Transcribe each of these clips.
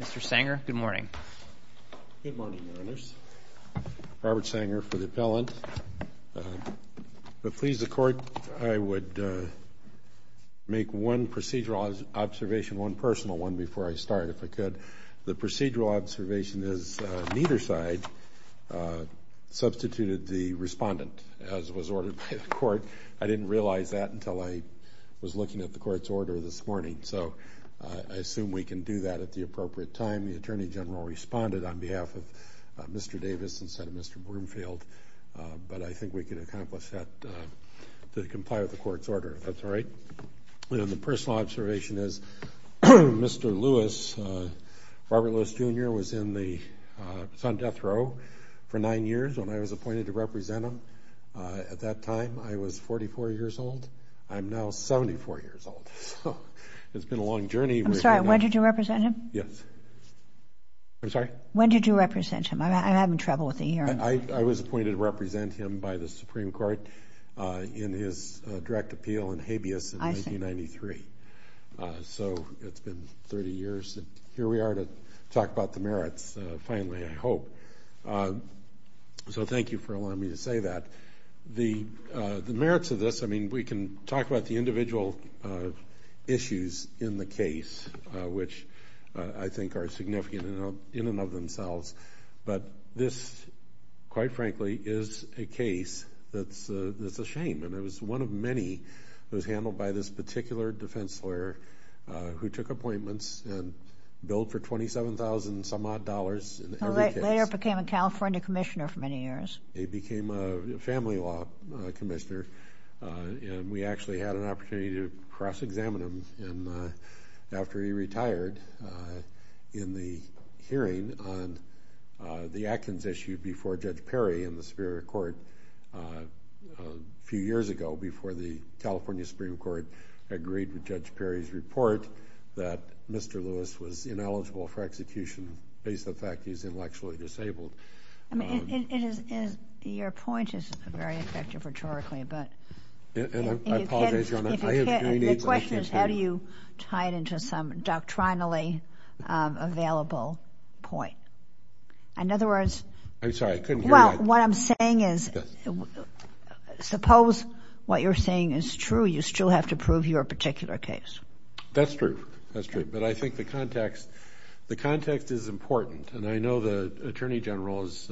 Mr. Sanger, good morning. Good morning, Your Honors. Robert Sanger for the appellant. But please, the Court, I would make one procedural observation, one personal one, before I start, if I could. The procedural observation is neither side substituted the respondent, as was ordered by the Court. I didn't realize that until I was looking at the Court's order this morning. So I assume we can do that at the appropriate time. The Attorney General responded on behalf of Mr. Davis instead of Mr. Broomfield. But I think we can accomplish that to comply with the Court's order, if that's all right. The personal observation is Mr. Lewis, Robert Lewis, Jr., was in the Sun Death row for nine years when I was appointed to represent him. At that time, I was 44 years old. I'm now 74 years old. It's been a long journey. I'm sorry, when did you represent him? Yes. I'm sorry? When did you represent him? I'm having trouble with the hearing. I was appointed to represent him by the Supreme Court in his direct appeal in habeas in 1993. So it's been 30 years. Here we are to talk about the merits, finally, I hope. So thank you for allowing me to say that. The merits of this, I mean, we can talk about the individual issues in the case, which I think are significant in and of themselves. But this, quite frankly, is a case that's a shame. And it was one of many that was handled by this particular defense lawyer who took appointments and billed for $27,000 and some odd dollars in every case. He later became a California commissioner for many years. He became a family law commissioner, and we actually had an opportunity to cross-examine him. And after he retired in the hearing on the Atkins issue before Judge Perry in the Superior Court a few years ago, before the California Supreme Court agreed with Judge Perry's report that Mr. Lewis was ineligible for execution based on the fact he's intellectually disabled. I mean, your point is very effective rhetorically. And I apologize, Your Honor. The question is how do you tie it into some doctrinally available point? In other words – I'm sorry. I couldn't hear you. Well, what I'm saying is suppose what you're saying is true, you still have to prove your particular case. That's true. That's true. But I think the context is important. And I know the Attorney General has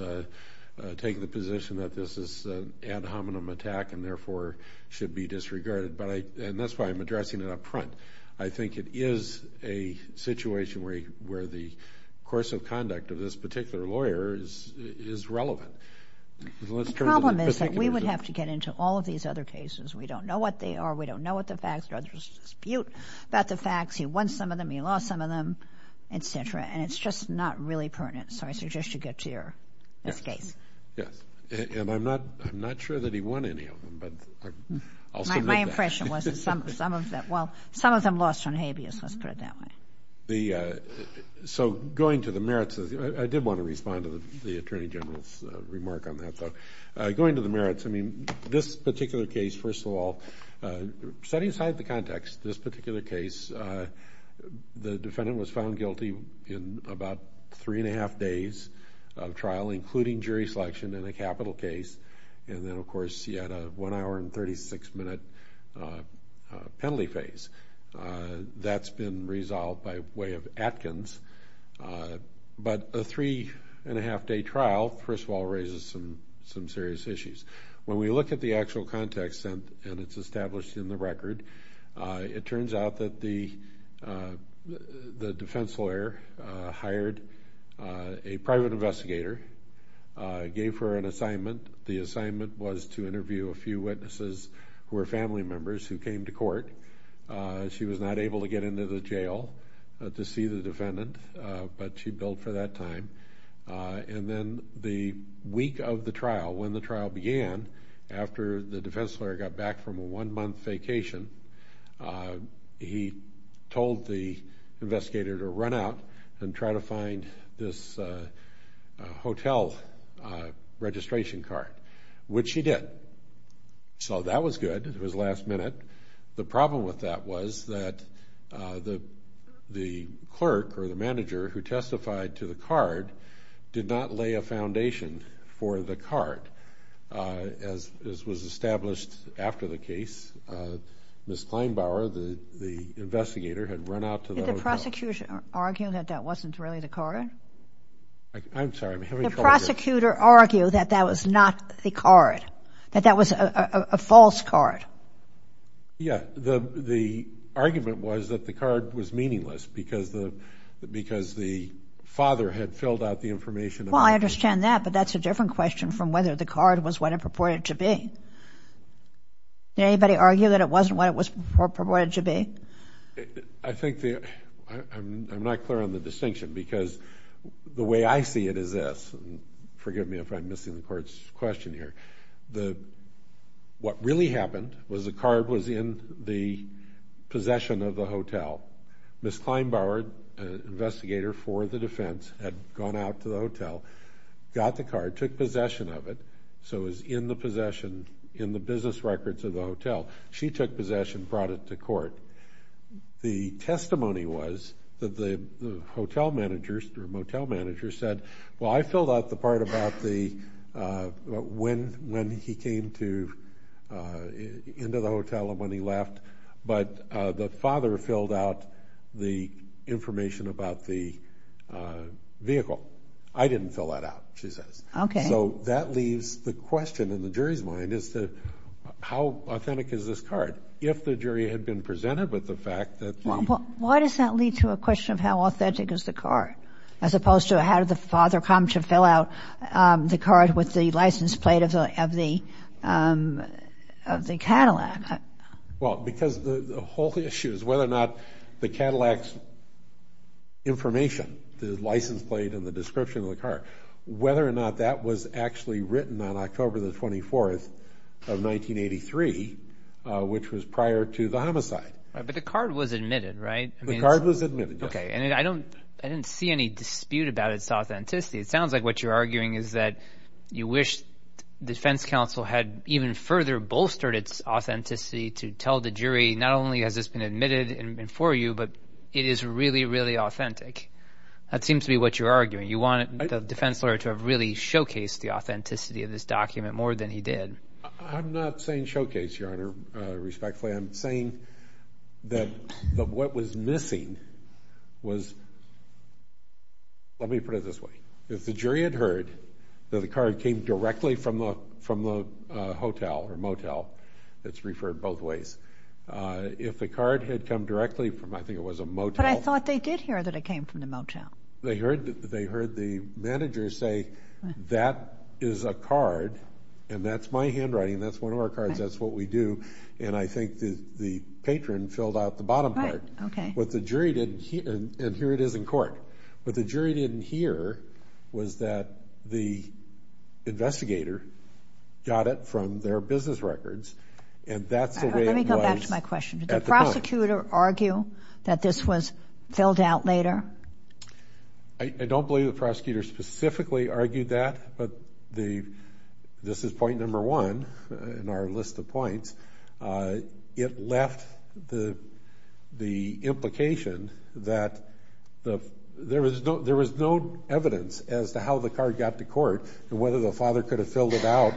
taken the position that this is an ad hominem attack and therefore should be disregarded. And that's why I'm addressing it up front. I think it is a situation where the course of conduct of this particular lawyer is relevant. The problem is that we would have to get into all of these other cases. We don't know what they are. We don't know what the facts are. There's a dispute about the facts. He won some of them. He lost some of them, et cetera. And it's just not really pertinent. So I suggest you get to your case. Yes. And I'm not sure that he won any of them, but I'll submit that. My impression was that some of them lost on habeas. Let's put it that way. So going to the merits, I did want to respond to the Attorney General's remark on that, though. Going to the merits, I mean, this particular case, first of all, setting aside the context, this particular case, the defendant was found guilty in about three and a half days of trial, including jury selection in a capital case, and then, of course, he had a one-hour and 36-minute penalty phase. That's been resolved by way of Atkins. But a three-and-a-half-day trial, first of all, raises some serious issues. When we look at the actual context, and it's established in the record, it turns out that the defense lawyer hired a private investigator, gave her an assignment. The assignment was to interview a few witnesses who were family members who came to court. She was not able to get into the jail to see the defendant, but she billed for that time. And then the week of the trial, when the trial began, after the defense lawyer got back from a one-month vacation, he told the investigator to run out and try to find this hotel registration card, which she did. So that was good. It was last minute. The problem with that was that the clerk or the manager who testified to the card did not lay a foundation for the card. As was established after the case, Ms. Kleinbauer, the investigator, had run out to the hotel. Did the prosecution argue that that wasn't really the card? I'm sorry. The prosecutor argued that that was not the card, that that was a false card. Yeah. The argument was that the card was meaningless because the father had filled out the information. Well, I understand that, but that's a different question from whether the card was what it purported to be. Did anybody argue that it wasn't what it was purported to be? I'm not clear on the distinction because the way I see it is this. Forgive me if I'm missing the court's question here. What really happened was the card was in the possession of the hotel. Ms. Kleinbauer, the investigator for the defense, had gone out to the hotel, got the card, took possession of it, so it was in the possession, in the business records of the hotel. She took possession, brought it to court. The testimony was that the hotel manager or motel manager said, well, I filled out the part about when he came into the hotel and when he left, but the father filled out the information about the vehicle. I didn't fill that out, she says. Okay. So that leaves the question in the jury's mind is how authentic is this card? If the jury had been presented with the fact that the- Why does that lead to a question of how authentic is the card as opposed to how did the father come to fill out the card with the license plate of the Cadillac? Well, because the whole issue is whether or not the Cadillac's information, the license plate and the description of the card, whether or not that was actually written on October the 24th of 1983, which was prior to the homicide. But the card was admitted, right? The card was admitted, yes. Okay. I didn't see any dispute about its authenticity. It sounds like what you're arguing is that you wish defense counsel had even further bolstered its authenticity to tell the jury not only has this been admitted and for you, but it is really, really authentic. That seems to be what you're arguing. You want the defense lawyer to have really showcased the authenticity of this document more than he did. I'm not saying showcase, Your Honor, respectfully. I'm saying that what was missing was – let me put it this way. If the jury had heard that the card came directly from the hotel or motel, it's referred both ways. If the card had come directly from – I think it was a motel. But I thought they did hear that it came from the motel. They heard the manager say, that is a card and that's my handwriting, that's one of our cards, that's what we do. And I think the patron filled out the bottom part. Right, okay. And here it is in court. What the jury didn't hear was that the investigator got it from their business records and that's the way it was at the time. Let me go back to my question. Did the prosecutor argue that this was filled out later? I don't believe the prosecutor specifically argued that, but this is point number one in our list of points. It left the implication that there was no evidence as to how the card got to court and whether the father could have filled it out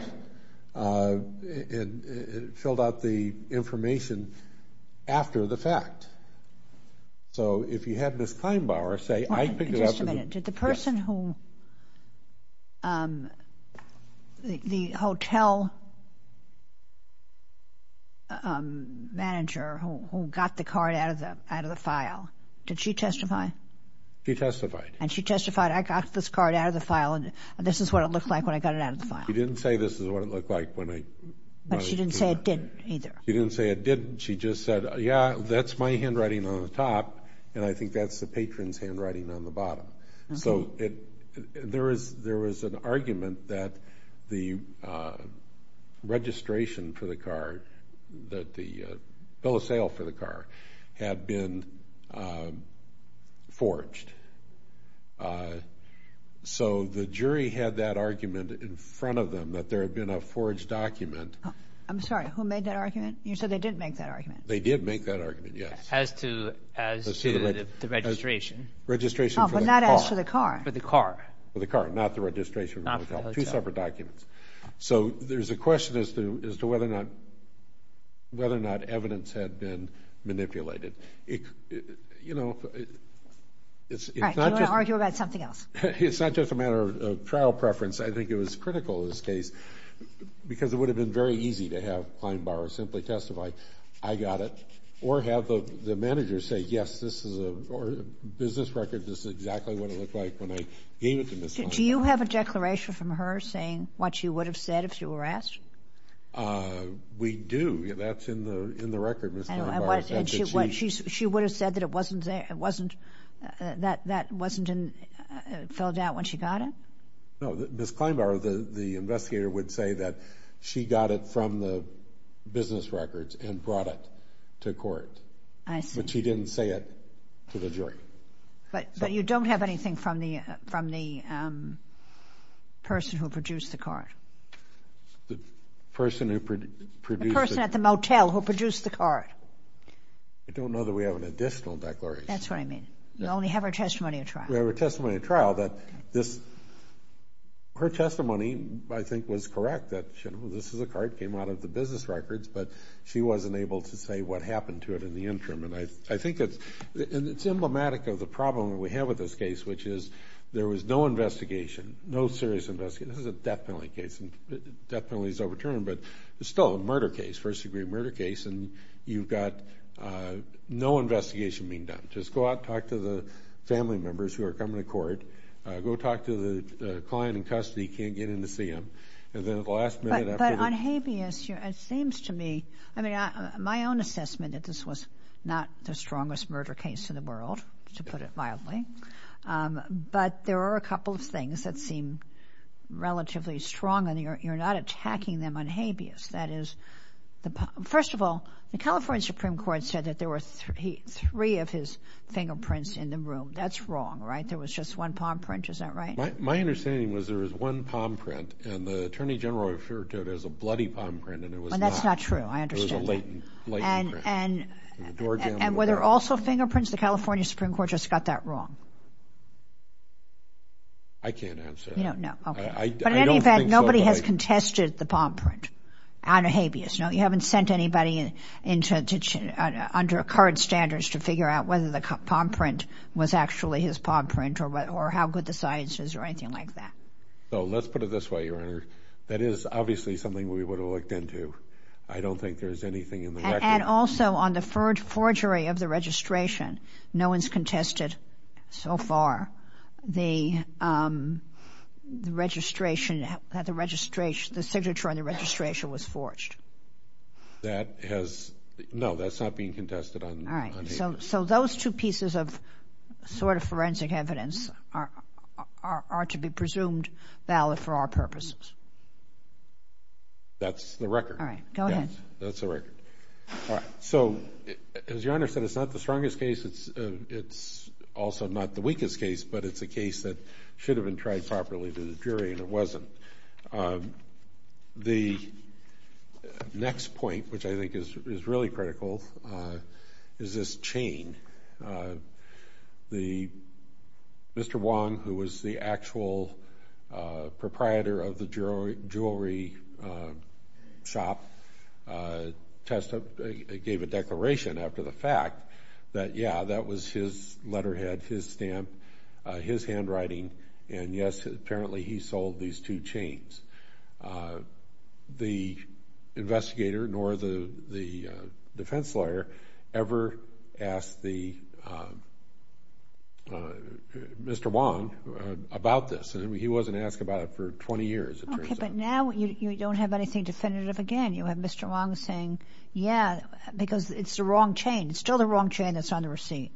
and filled out the information after the fact. So if you had Ms. Kleinbauer say, I picked it up – manager who got the card out of the file, did she testify? She testified. And she testified, I got this card out of the file and this is what it looked like when I got it out of the file. She didn't say this is what it looked like when I got it out of the file. But she didn't say it didn't either. She didn't say it didn't. She just said, yeah, that's my handwriting on the top and I think that's the patron's handwriting on the bottom. So there was an argument that the registration for the card, that the bill of sale for the card had been forged. So the jury had that argument in front of them that there had been a forged document. I'm sorry, who made that argument? You said they didn't make that argument. They did make that argument, yes. As to the registration. Registration for the car. Oh, but not as for the car. For the car. For the car, not the registration. Not for the hotel. Two separate documents. So there's a question as to whether or not evidence had been manipulated. You know, it's not just – All right, do you want to argue about something else? It's not just a matter of trial preference. I think it was critical in this case because it would have been very easy to have Kleinbauer simply testify, I got it, or have the manager say, yes, this is a business record, this is exactly what it looked like when I gave it to Ms. Kleinbauer. Do you have a declaration from her saying what she would have said if you were asked? We do. That's in the record, Ms. Kleinbauer. And she would have said that it wasn't – that wasn't filled out when she got it? No, Ms. Kleinbauer, the investigator, would say that she got it from the business records and brought it to court. I see. But she didn't say it to the jury. But you don't have anything from the person who produced the car? The person who produced the – The person at the motel who produced the car. I don't know that we have an additional declaration. That's what I mean. You only have her testimony at trial. We have her testimony at trial. Her testimony, I think, was correct that, you know, this is a car that came out of the business records, but she wasn't able to say what happened to it in the interim. And I think it's – and it's emblematic of the problem that we have with this case, which is there was no investigation, no serious investigation. This is a death penalty case, and death penalty is overturned, but it's still a murder case, first-degree murder case, and you've got no investigation being done. Just go out and talk to the family members who are coming to court. Go talk to the client in custody who can't get in to see him. And then at the last minute after the – But on habeas, it seems to me – I mean, my own assessment that this was not the strongest murder case in the world, to put it mildly, but there are a couple of things that seem relatively strong, and you're not attacking them on habeas. That is, the – first of all, the California Supreme Court said that there were three of his fingerprints in the room. That's wrong, right? There was just one palm print. Is that right? My understanding was there was one palm print, and the Attorney General referred to it as a bloody palm print, and it was not. And that's not true. I understand that. It was a latent – latent print. And were there also fingerprints? The California Supreme Court just got that wrong. I can't answer that. No, no. Okay. I don't think so. But in any event, nobody has contested the palm print out of habeas. No, you haven't sent anybody into – under current standards to figure out whether the palm print was actually his palm print or how good the science is or anything like that. So let's put it this way, Your Honor. That is obviously something we would have looked into. I don't think there's anything in the record. And also, on the forgery of the registration, no one's contested so far the registration – that the signature on the registration was forged. That has – no, that's not being contested on habeas. All right. So those two pieces of sort of forensic evidence are to be presumed valid for our purposes. That's the record. All right. Go ahead. That's the record. All right. So as Your Honor said, it's not the strongest case. It's also not the weakest case, but it's a case that should have been tried properly to the jury, and it wasn't. The next point, which I think is really critical, is this chain. The – Mr. Wong, who was the actual proprietor of the jewelry shop, gave a declaration after the fact that, yeah, that was his letterhead, his stamp, his handwriting, and, yes, apparently he sold these two chains. The investigator nor the defense lawyer ever asked the – Mr. Wong about this, and he wasn't asked about it for 20 years, it turns out. Okay, but now you don't have anything definitive again. You have Mr. Wong saying, yeah, because it's the wrong chain. It's still the wrong chain that's on the receipt.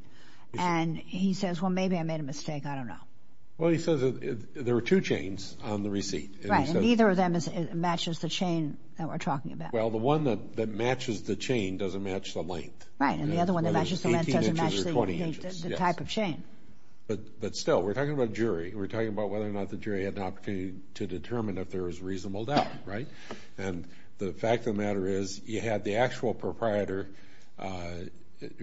And he says, well, maybe I made a mistake. I don't know. Well, he says there were two chains on the receipt. Right, and neither of them matches the chain that we're talking about. Well, the one that matches the chain doesn't match the length. Right, and the other one that matches the length doesn't match the type of chain. But still, we're talking about a jury. We're talking about whether or not the jury had an opportunity to determine if there was reasonable doubt, right? And the fact of the matter is you had the actual proprietor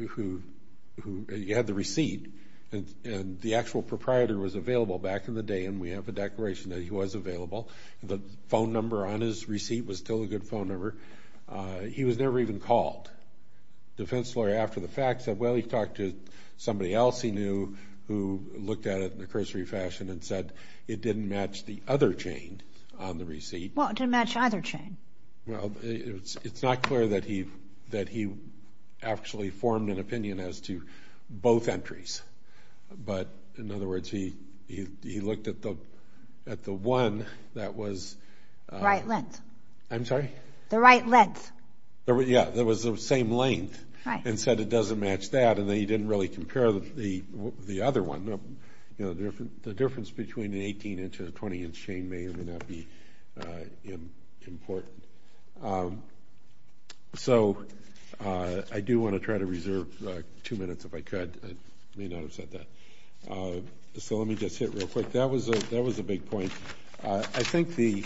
who – you had the receipt, and the actual proprietor was available back in the day, and we have a declaration that he was available. The phone number on his receipt was still a good phone number. He was never even called. Defense lawyer, after the fact, said, well, he talked to somebody else he knew who looked at it in the cursory fashion and said it didn't match the other chain on the receipt. Well, it didn't match either chain. Well, it's not clear that he actually formed an opinion as to both entries. But, in other words, he looked at the one that was – The right length. I'm sorry? The right length. Yeah, that was the same length and said it doesn't match that, and then he didn't really compare the other one. The difference between an 18-inch and a 20-inch chain may or may not be important. So I do want to try to reserve two minutes if I could. I may not have said that. So let me just hit real quick. That was a big point. I think the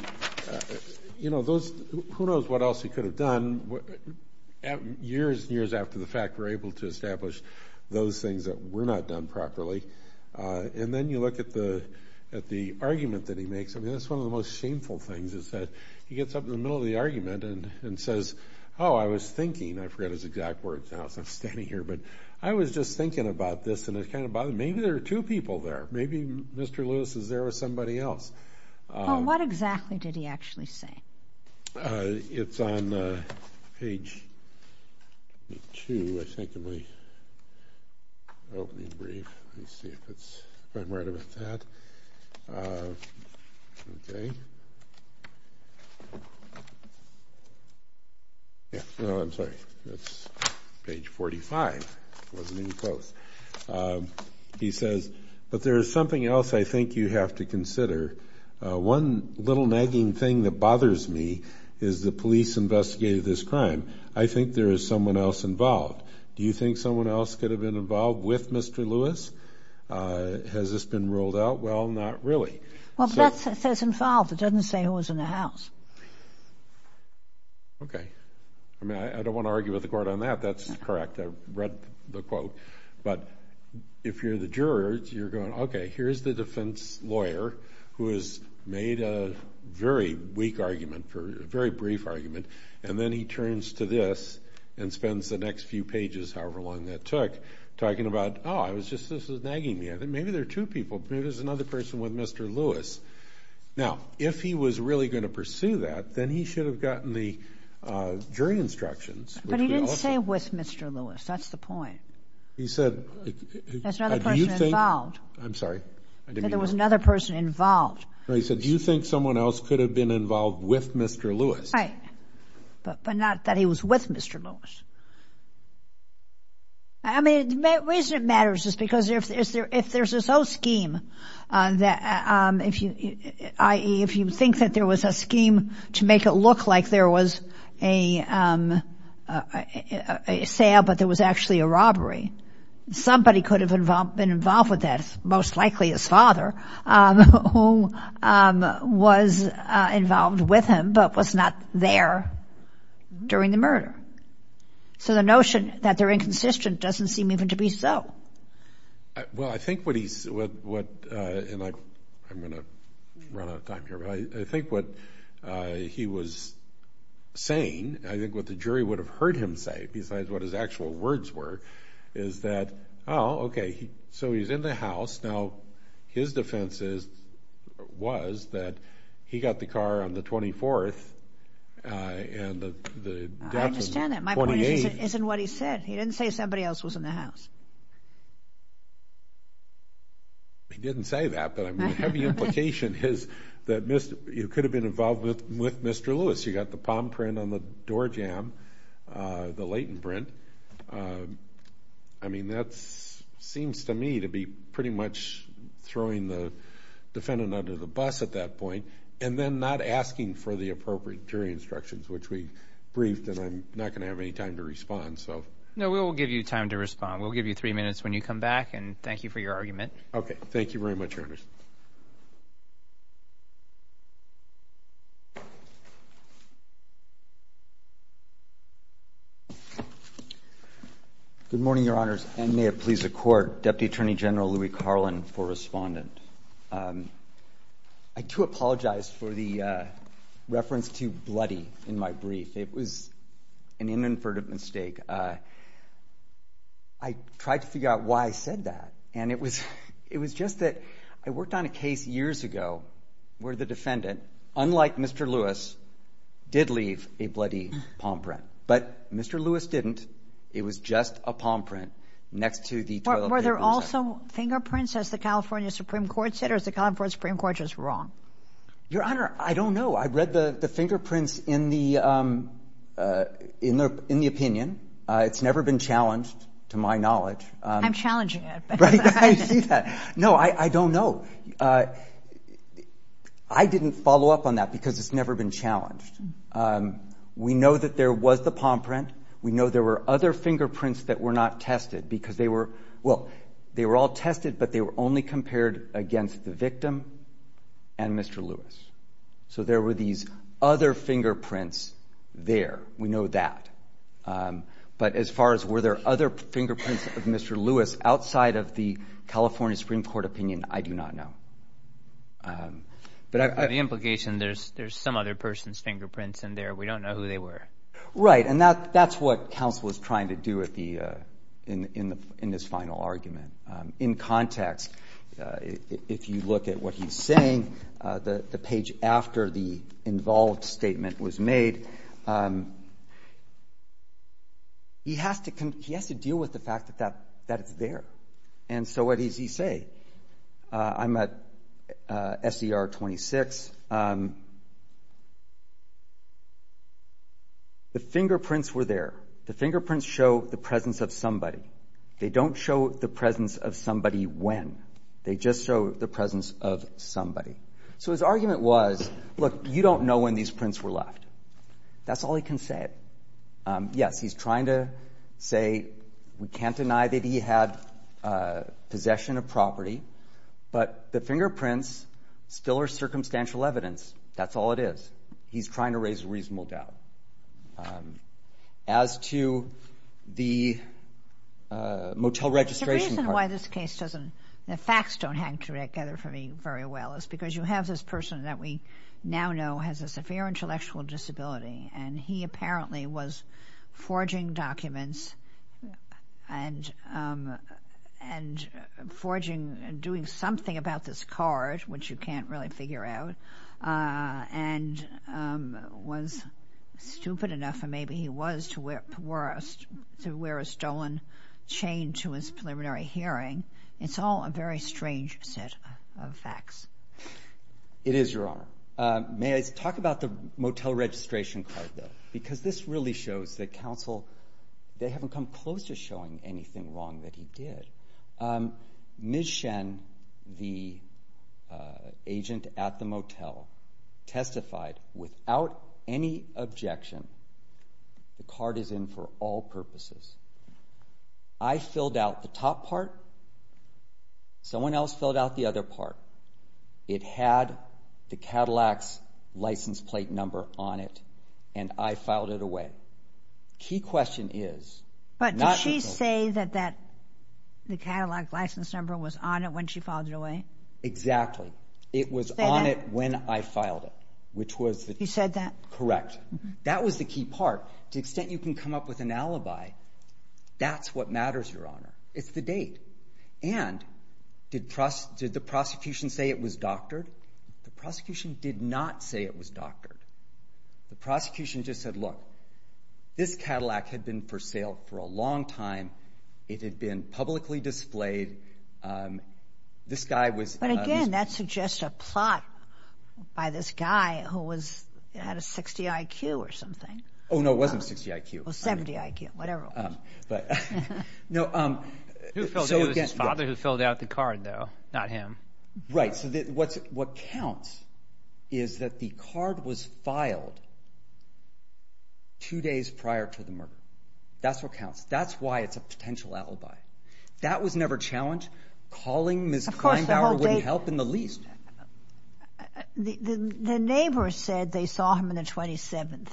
– you know, those – who knows what else he could have done. Years and years after the fact, we're able to establish those things that were not done properly. And then you look at the argument that he makes. I mean, that's one of the most shameful things is that he gets up in the middle of the argument and says, oh, I was thinking – I forget his exact words now since I'm standing here – but I was just thinking about this, and it kind of bothered me. Maybe there are two people there. Maybe Mr. Lewis is there with somebody else. Well, what exactly did he actually say? It's on page 2, I think, of my opening brief. Let me see if it's – if I'm right about that. Okay. No, I'm sorry. That's page 45. It wasn't any close. He says, but there is something else I think you have to consider. One little nagging thing that bothers me is the police investigated this crime. I think there is someone else involved. Do you think someone else could have been involved with Mr. Lewis? Has this been ruled out? Well, not really. Well, that says involved. It doesn't say who was in the house. Okay. I mean, I don't want to argue with the court on that. That's correct. I read the quote. But if you're the juror, you're going, okay, here's the defense lawyer who has made a very weak argument, a very brief argument, and then he turns to this and spends the next few pages, however long that took, talking about, oh, I was just – this is nagging me. Maybe there are two people. Maybe there's another person with Mr. Lewis. Now, if he was really going to pursue that, then he should have gotten the jury instructions. But he didn't say with Mr. Lewis. That's the point. He said – There's another person involved. I'm sorry. There was another person involved. He said, do you think someone else could have been involved with Mr. Lewis? Right. But not that he was with Mr. Lewis. I mean, the reason it matters is because if there's this whole scheme that if you think that there was a scheme to make it look like there was a sale but there was actually a robbery, somebody could have been involved with that, most likely his father, who was involved with him but was not there during the murder. So the notion that they're inconsistent doesn't seem even to be so. Well, I think what he's – and I'm going to run out of time here. But I think what he was saying, I think what the jury would have heard him say, besides what his actual words were, is that, oh, okay, so he's in the house. Now, his defense was that he got the car on the 24th and the death was the 28th. I understand that. My point isn't what he said. He didn't say somebody else was in the house. He didn't say that, but a heavy implication is that you could have been involved with Mr. Lewis. You got the palm print on the door jamb, the latent print. I mean, that seems to me to be pretty much throwing the defendant under the bus at that point and then not asking for the appropriate jury instructions, which we briefed, and I'm not going to have any time to respond. No, we will give you time to respond. We'll give you three minutes when you come back, and thank you for your argument. Okay, thank you very much, Your Honor. Good morning, Your Honors, and may it please the Court. Deputy Attorney General Louie Carlin for Respondent. I do apologize for the reference to bloody in my brief. It was an inadvertent mistake. I tried to figure out why I said that, and it was just that I worked on a case years ago where the defendant, unlike Mr. Lewis, did leave a bloody palm print, but Mr. Lewis didn't. It was just a palm print next to the toilet paper. Were there also fingerprints, as the California Supreme Court said, or is the California Supreme Court just wrong? Your Honor, I don't know. I read the fingerprints in the opinion. It's never been challenged, to my knowledge. I'm challenging it. I see that. No, I don't know. I didn't follow up on that because it's never been challenged. We know that there was the palm print. We know there were other fingerprints that were not tested because they were all tested, but they were only compared against the victim and Mr. Lewis. So there were these other fingerprints there. We know that. But as far as were there other fingerprints of Mr. Lewis outside of the California Supreme Court opinion, I do not know. The implication, there's some other person's fingerprints in there. We don't know who they were. Right, and that's what counsel is trying to do in this final argument. In context, if you look at what he's saying, the page after the involved statement was made, he has to deal with the fact that it's there. And so what does he say? I'm at SER 26. The fingerprints were there. The fingerprints show the presence of somebody. They don't show the presence of somebody when. They just show the presence of somebody. So his argument was, look, you don't know when these prints were left. That's all he can say. Yes, he's trying to say we can't deny that he had possession of property, but the fingerprints still are circumstantial evidence. That's all it is. He's trying to raise a reasonable doubt. As to the motel registration card. The reason why this case doesn't, the facts don't hang together for me very well is because you have this person that we now know has a severe intellectual disability, and he apparently was forging documents and forging and doing something about this card, which you can't really figure out, and was stupid enough, and maybe he was, to wear a stolen chain to his preliminary hearing. It's all a very strange set of facts. It is, Your Honor. May I talk about the motel registration card, though? Because this really shows that counsel, they haven't come close to showing anything wrong that he did. Ms. Shen, the agent at the motel, testified without any objection. The card is in for all purposes. I filled out the top part. Someone else filled out the other part. It had the Cadillac's license plate number on it, and I filed it away. The key question is, not the code. But did she say that the Cadillac license number was on it when she filed it away? Exactly. It was on it when I filed it, which was the key. You said that? Correct. That was the key part. To the extent you can come up with an alibi, that's what matters, Your Honor. It's the date. And did the prosecution say it was doctored? The prosecution did not say it was doctored. The prosecution just said, look, this Cadillac had been for sale for a long time. It had been publicly displayed. But, again, that suggests a plot by this guy who had a 60 IQ or something. Oh, no, it wasn't a 60 IQ. Well, 70 IQ, whatever it was. It was his father who filled out the card, though, not him. Right. So what counts is that the card was filed two days prior to the murder. That's what counts. That's why it's a potential alibi. That was never challenged. Calling Ms. Kleindauer wouldn't help in the least. The neighbors said they saw him on the 27th.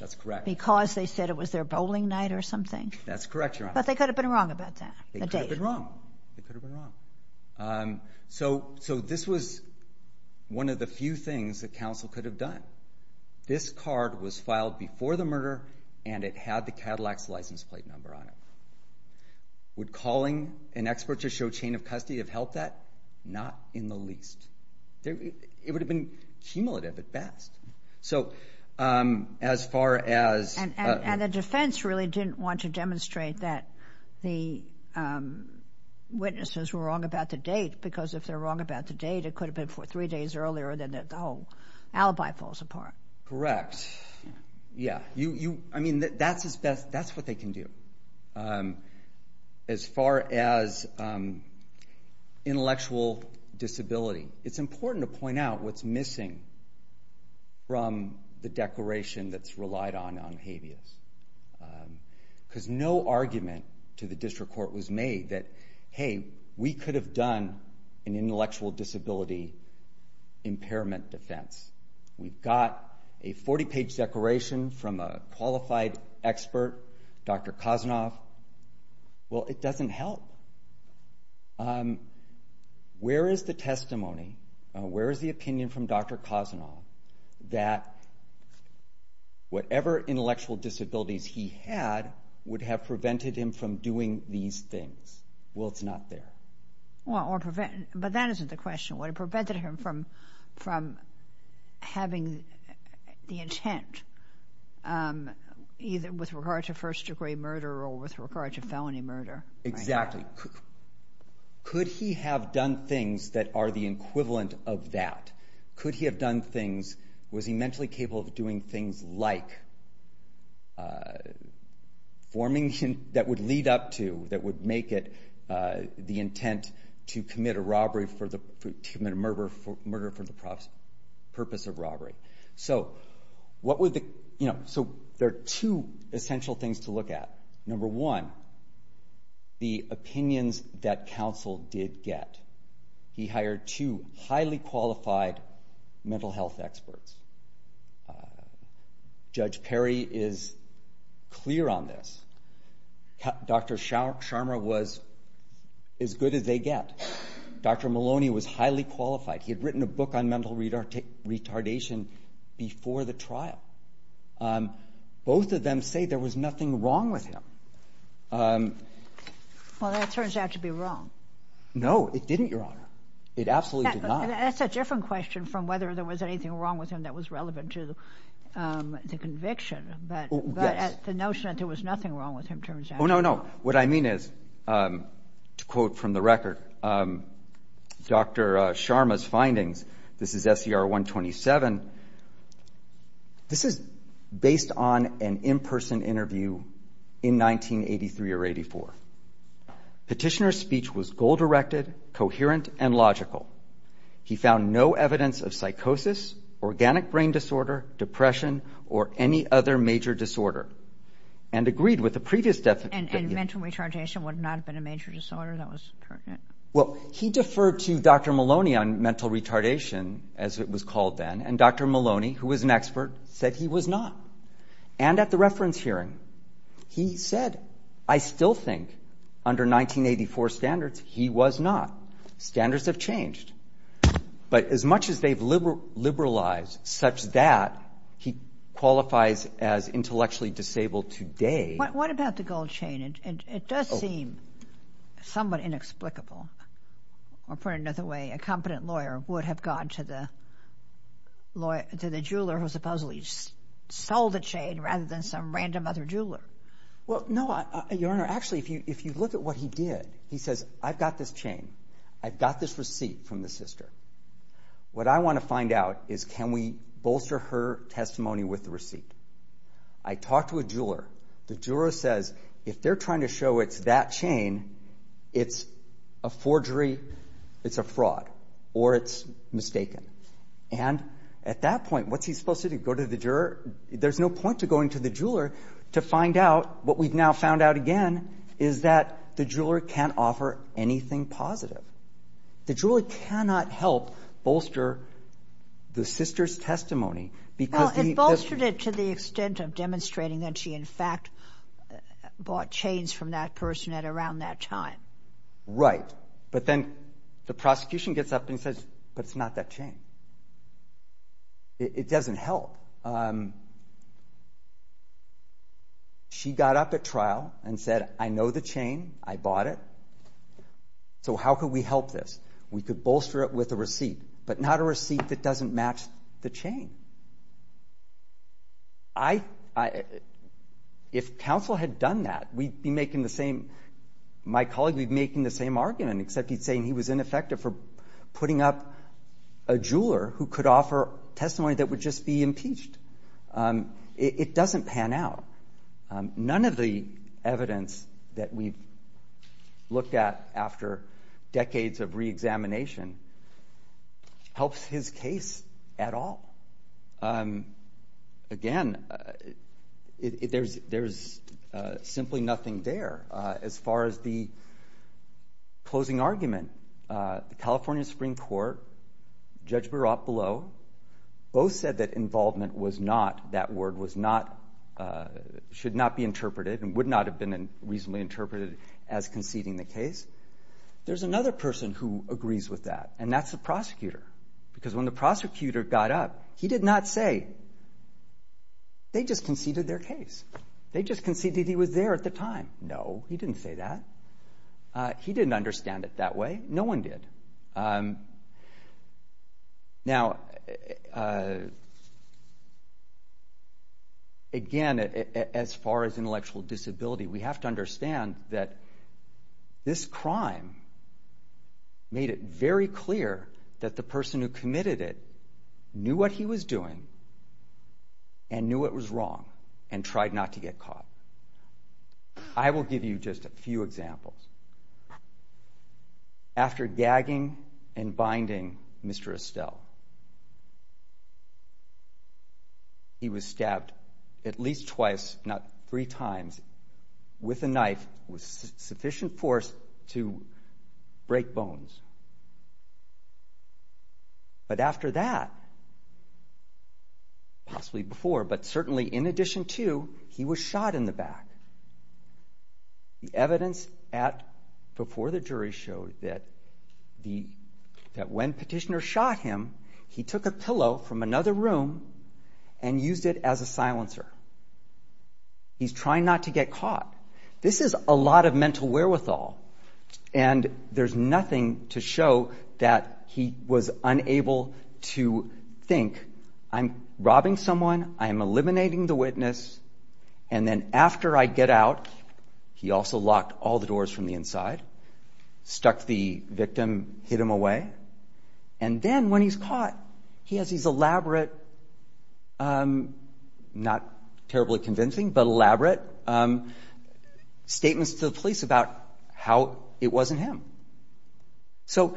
That's correct. Because they said it was their bowling night or something. That's correct, Your Honor. But they could have been wrong about that, the date. They could have been wrong. They could have been wrong. So this was one of the few things that counsel could have done. This card was filed before the murder, and it had the Cadillac's license plate number on it. Would calling an expert to show chain of custody have helped that? Not in the least. It would have been cumulative at best. And the defense really didn't want to demonstrate that the witnesses were wrong about the date, because if they're wrong about the date, it could have been three days earlier, and then the whole alibi falls apart. Correct. Yeah. I mean, that's what they can do. As far as intellectual disability, it's important to point out what's missing from the declaration that's relied on on habeas. Because no argument to the district court was made that, hey, we could have done an intellectual disability impairment defense. We've got a 40-page declaration from a qualified expert, Dr. Kosanoff. Well, it doesn't help. Where is the testimony, where is the opinion from Dr. Kosanoff, that whatever intellectual disabilities he had would have prevented him from doing these things? Well, it's not there. But that isn't the question. It would have prevented him from having the intent, either with regard to first-degree murder or with regard to felony murder. Could he have done things that are the equivalent of that? Could he have done things? Was he mentally capable of doing things like forming that would lead up to, that would make it the intent to commit a murder for the purpose of robbery? So there are two essential things to look at. Number one, the opinions that counsel did get. He hired two highly qualified mental health experts. Judge Perry is clear on this. Dr. Sharma was as good as they get. Dr. Maloney was highly qualified. He had written a book on mental retardation before the trial. Both of them say there was nothing wrong with him. Well, that turns out to be wrong. No, it didn't, Your Honor. It absolutely did not. That's a different question from whether there was anything wrong with him that was relevant to the conviction. But the notion that there was nothing wrong with him turns out to be wrong. Oh, no, no. What I mean is, to quote from the record, Dr. Sharma's findings. This is SCR 127. This is based on an in-person interview in 1983 or 84. Petitioner's speech was goal-directed, coherent, and logical. He found no evidence of psychosis, organic brain disorder, depression, or any other major disorder, and agreed with the previous definition. And mental retardation would not have been a major disorder that was pertinent? Well, he deferred to Dr. Maloney on mental retardation, as it was called then, and Dr. Maloney, who was an expert, said he was not. And at the reference hearing, he said, I still think, under 1984 standards, he was not. Standards have changed. But as much as they've liberalized such that he qualifies as intellectually disabled today. What about the gold chain? It does seem somewhat inexplicable, or put another way, a competent lawyer would have gone to the jeweler who supposedly sold the chain rather than some random other jeweler. Well, no, Your Honor. Actually, if you look at what he did, he says, I've got this chain. I've got this receipt from the sister. What I want to find out is can we bolster her testimony with the receipt? I talked to a jeweler. The jeweler says, if they're trying to show it's that chain, it's a forgery, it's a fraud, or it's mistaken. And at that point, what's he supposed to do? Go to the juror? There's no point to going to the jeweler to find out what we've now found out again is that the jeweler can't offer anything positive. The jeweler cannot help bolster the sister's testimony. Well, it bolstered it to the extent of demonstrating that she, in fact, bought chains from that person at around that time. Right. But then the prosecution gets up and says, but it's not that chain. It doesn't help. She got up at trial and said, I know the chain. I bought it. So how could we help this? We could bolster it with a receipt, but not a receipt that doesn't match the chain. If counsel had done that, we'd be making the same argument, except he's saying he was ineffective for putting up a jeweler who could offer testimony that would just be impeached. It doesn't pan out. None of the evidence that we've looked at after decades of reexamination helps his case at all. Again, there's simply nothing there As far as the closing argument, the California Supreme Court, Judge Baroff below, both said that involvement was not, that word was not, should not be interpreted and would not have been reasonably interpreted as conceding the case. There's another person who agrees with that, and that's the prosecutor, because when the prosecutor got up, he did not say, they just conceded their case. They just conceded he was there at the time. No, he didn't say that. He didn't understand it that way. No one did. Now, again, as far as intellectual disability, we have to understand that this crime made it very clear that the person who committed it knew what he was doing and knew it was wrong and tried not to get caught. I will give you just a few examples. After gagging and binding Mr. Estelle, he was stabbed at least twice, not three times, with a knife with sufficient force to break bones. But after that, possibly before, but certainly in addition to, he was shot in the back. The evidence before the jury showed that when Petitioner shot him, he took a pillow from another room and used it as a silencer. He's trying not to get caught. This is a lot of mental wherewithal, and there's nothing to show that he was unable to think, I'm robbing someone, I'm eliminating the witness, and then after I get out, he also locked all the doors from the inside, stuck the victim, hid him away, and then when he's caught, he has these elaborate, not terribly convincing, but elaborate statements to the police about how it wasn't him. So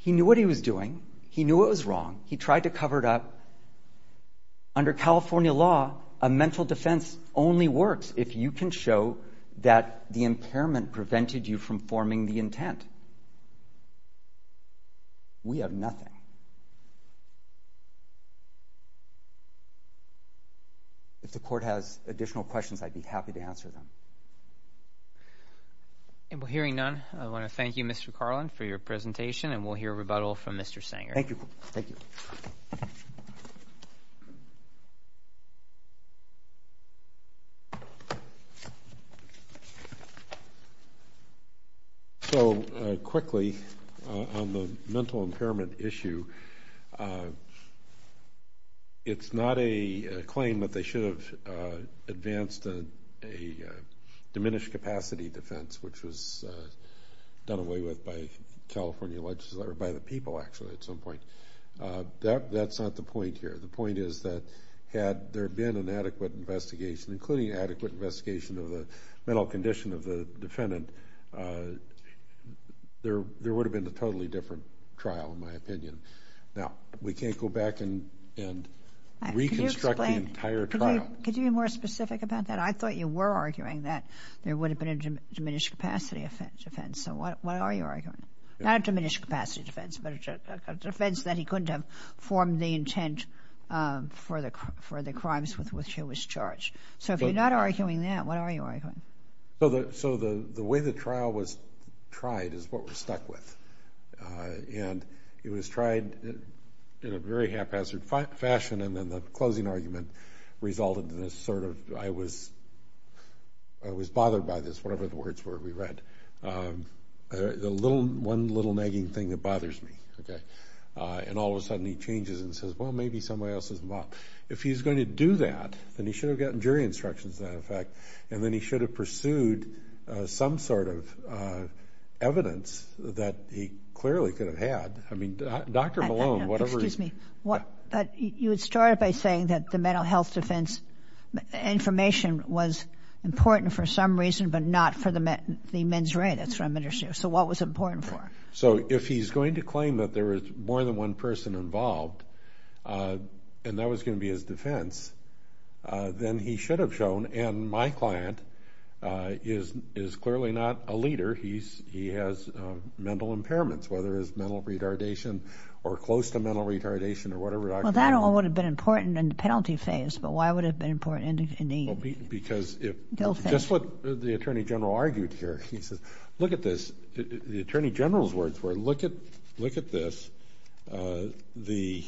he knew what he was doing. He knew it was wrong. He tried to cover it up. Under California law, a mental defense only works if you can show that the impairment prevented you from forming the intent. We have nothing. If the Court has additional questions, I'd be happy to answer them. And we're hearing none. I want to thank you, Mr. Carlin, for your presentation, and we'll hear rebuttal from Mr. Sanger. Thank you. So quickly, on the mental impairment issue, it's not a claim that they should have advanced a diminished capacity defense, which was done away with by the people, actually, at some point. That's not the point here. The point is that had there been an adequate investigation, including an adequate investigation of the mental condition of the defendant, there would have been a totally different trial, in my opinion. Now, we can't go back and reconstruct the entire trial. Could you be more specific about that? I thought you were arguing that there would have been a diminished capacity defense. So what are you arguing? Not a diminished capacity defense, but a defense that he couldn't have formed the intent for the crimes with which he was charged. So if you're not arguing that, what are you arguing? So the way the trial was tried is what we're stuck with. And it was tried in a very haphazard fashion, and then the closing argument resulted in this sort of, I was bothered by this, whatever the words were we read. The one little nagging thing that bothers me. And all of a sudden he changes and says, well, maybe somebody else is involved. If he's going to do that, then he should have gotten jury instructions, as a matter of fact, and then he should have pursued some sort of evidence that he clearly could have had. I mean, Dr. Malone, whatever— You would start by saying that the mental health defense information was important for some reason, but not for the men's right. That's what I'm interested in. So what was it important for? So if he's going to claim that there was more than one person involved, and that was going to be his defense, then he should have shown, and my client is clearly not a leader. He has mental impairments, whether it's mental retardation or close to mental retardation or whatever, Dr. Malone. Well, that all would have been important in the penalty phase, but why would it have been important in the appeal phase? Just what the attorney general argued here. He says, look at this. The attorney general's words were, look at this. The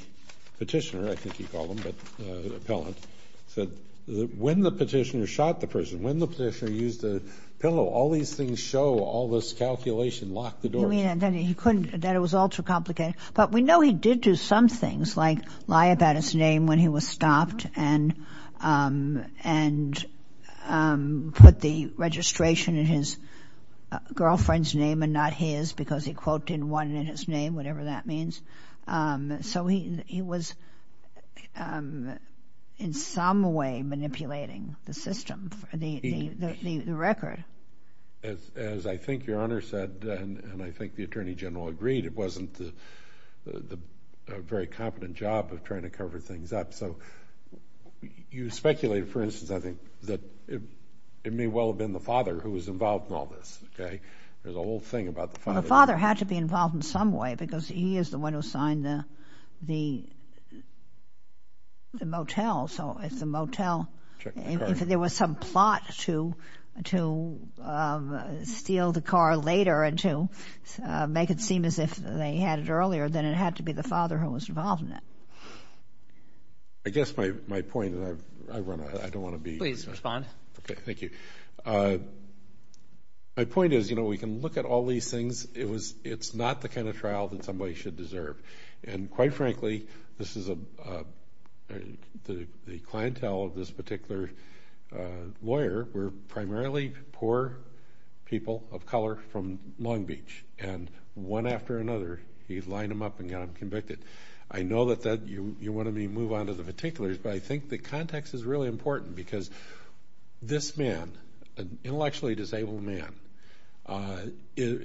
petitioner, I think he called him, but the appellant, said, when the petitioner shot the person, when the petitioner used the pillow, all these things show, all this calculation locked the door. You mean that he couldn't, that it was all too complicated? But we know he did do some things, like lie about his name when he was stopped and put the registration in his girlfriend's name and not his because he quoted one in his name, whatever that means. So he was in some way manipulating the system, the record. As I think Your Honor said, and I think the attorney general agreed, it wasn't a very competent job of trying to cover things up. So you speculated, for instance, I think, that it may well have been the father who was involved in all this. There's a whole thing about the father. Well, the father had to be involved in some way because he is the one who signed the motel. So if the motel, if there was some plot to steal the car later and to make it seem as if they had it earlier, then it had to be the father who was involved in it. I guess my point, and I run a, I don't want to be. Please respond. Okay, thank you. My point is, you know, we can look at all these things. It's not the kind of trial that somebody should deserve. And quite frankly, this is a, the clientele of this particular lawyer were primarily poor people of color from Long Beach. And one after another, he'd line them up and get them convicted. I know that you want me to move on to the particulars, but I think the context is really important because this man, an intellectually disabled man,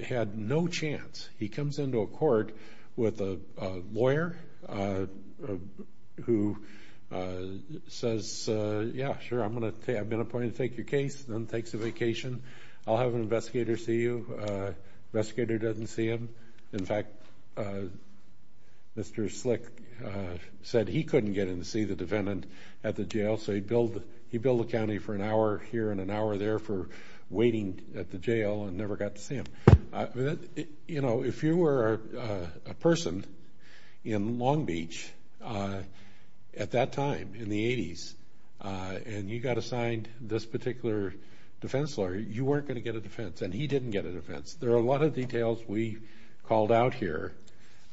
had no chance. He comes into a court with a lawyer who says, yeah, sure, I've been appointed to take your case, then takes a vacation, I'll have an investigator see you. Investigator doesn't see him. In fact, Mr. Slick said he couldn't get in to see the defendant at the jail, so he billed the county for an hour here and an hour there for waiting at the jail and never got to see him. You know, if you were a person in Long Beach at that time, in the 80s, and you got assigned this particular defense lawyer, you weren't going to get a defense, and he didn't get a defense. There are a lot of details we called out here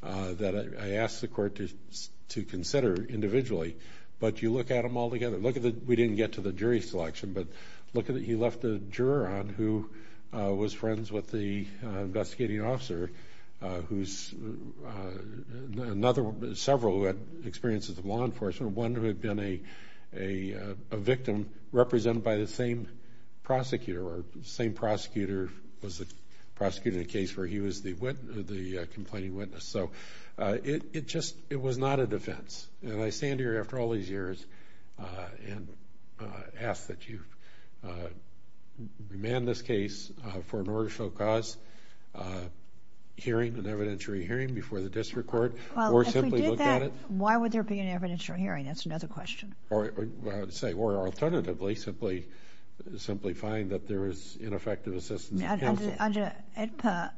that I asked the court to consider individually, but you look at them all together. Look at the, we didn't get to the jury selection, but look at that he left a juror on who was friends with the investigating officer, who's another, several who had experiences with law enforcement, one who had been a victim represented by the same prosecutor, or the same prosecutor was the prosecutor in the case where he was the complaining witness. So it just, it was not a defense. And I stand here after all these years and ask that you remand this case for an order to show cause hearing, an evidentiary hearing before the district court, or simply look at it. Well, if we did that, why would there be an evidentiary hearing? That's another question. Or say, or alternatively, simply find that there was ineffective assistance of counsel. Under AEDPA,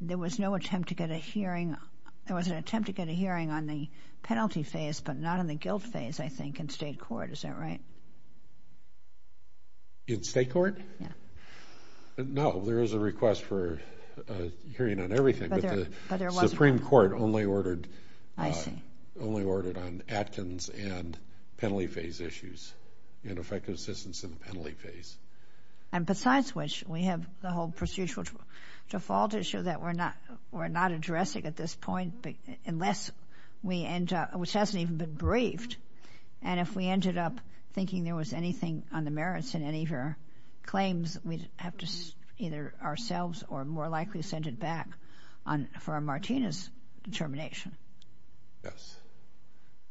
there was no attempt to get a hearing, there was an attempt to get a hearing on the penalty phase, but not on the guilt phase, I think, in state court, is that right? In state court? Yeah. No, there is a request for a hearing on everything, but the Supreme Court only ordered on Atkins and penalty phase issues, ineffective assistance in the penalty phase. And besides which, we have the whole procedural default issue that we're not addressing at this point unless we end up, which hasn't even been briefed, and if we ended up thinking there was anything on the merits in any of your claims, we'd have to either ourselves or more likely send it back for a Martinez determination. Yes.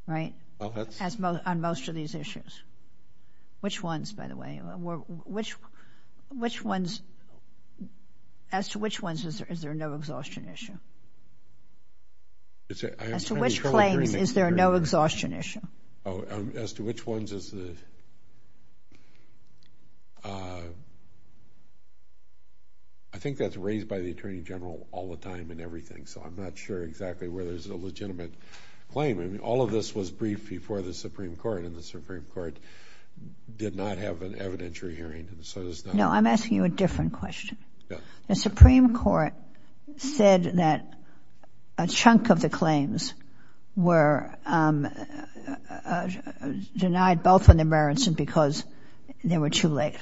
Right? Well, that's On most of these issues. Which ones, by the way? Which ones, as to which ones is there no exhaustion issue? As to which claims is there no exhaustion issue? Oh, as to which ones is the, I think that's raised by the Attorney General all the time in everything, so I'm not sure exactly where there's a legitimate claim. I mean, all of this was briefed before the Supreme Court, and the Supreme Court did not have an evidentiary hearing, so it's not No, I'm asking you a different question. The Supreme Court said that a chunk of the claims were denied both on the merits and because they were too late.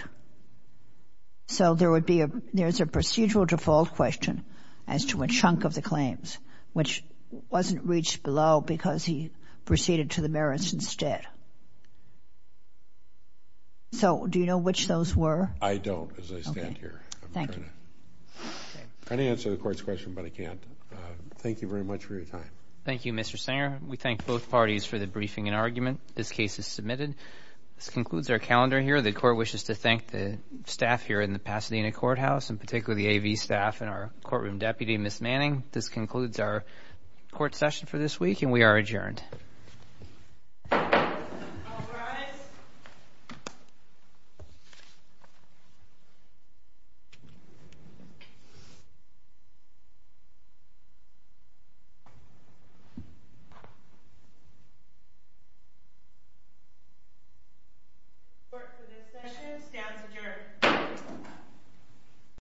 So there would be a, there's a procedural default question as to a chunk of the claims, which wasn't reached below because he proceeded to the merits instead. So do you know which those were? I don't as I stand here. I can answer the Court's question, but I can't. Thank you very much for your time. Thank you, Mr. Singer. We thank both parties for the briefing and argument. This case is submitted. This concludes our calendar here. The Court wishes to thank the staff here in the Pasadena Courthouse, and particularly the AV staff and our courtroom deputy, Ms. Manning. This concludes our court session for this week, and we are adjourned.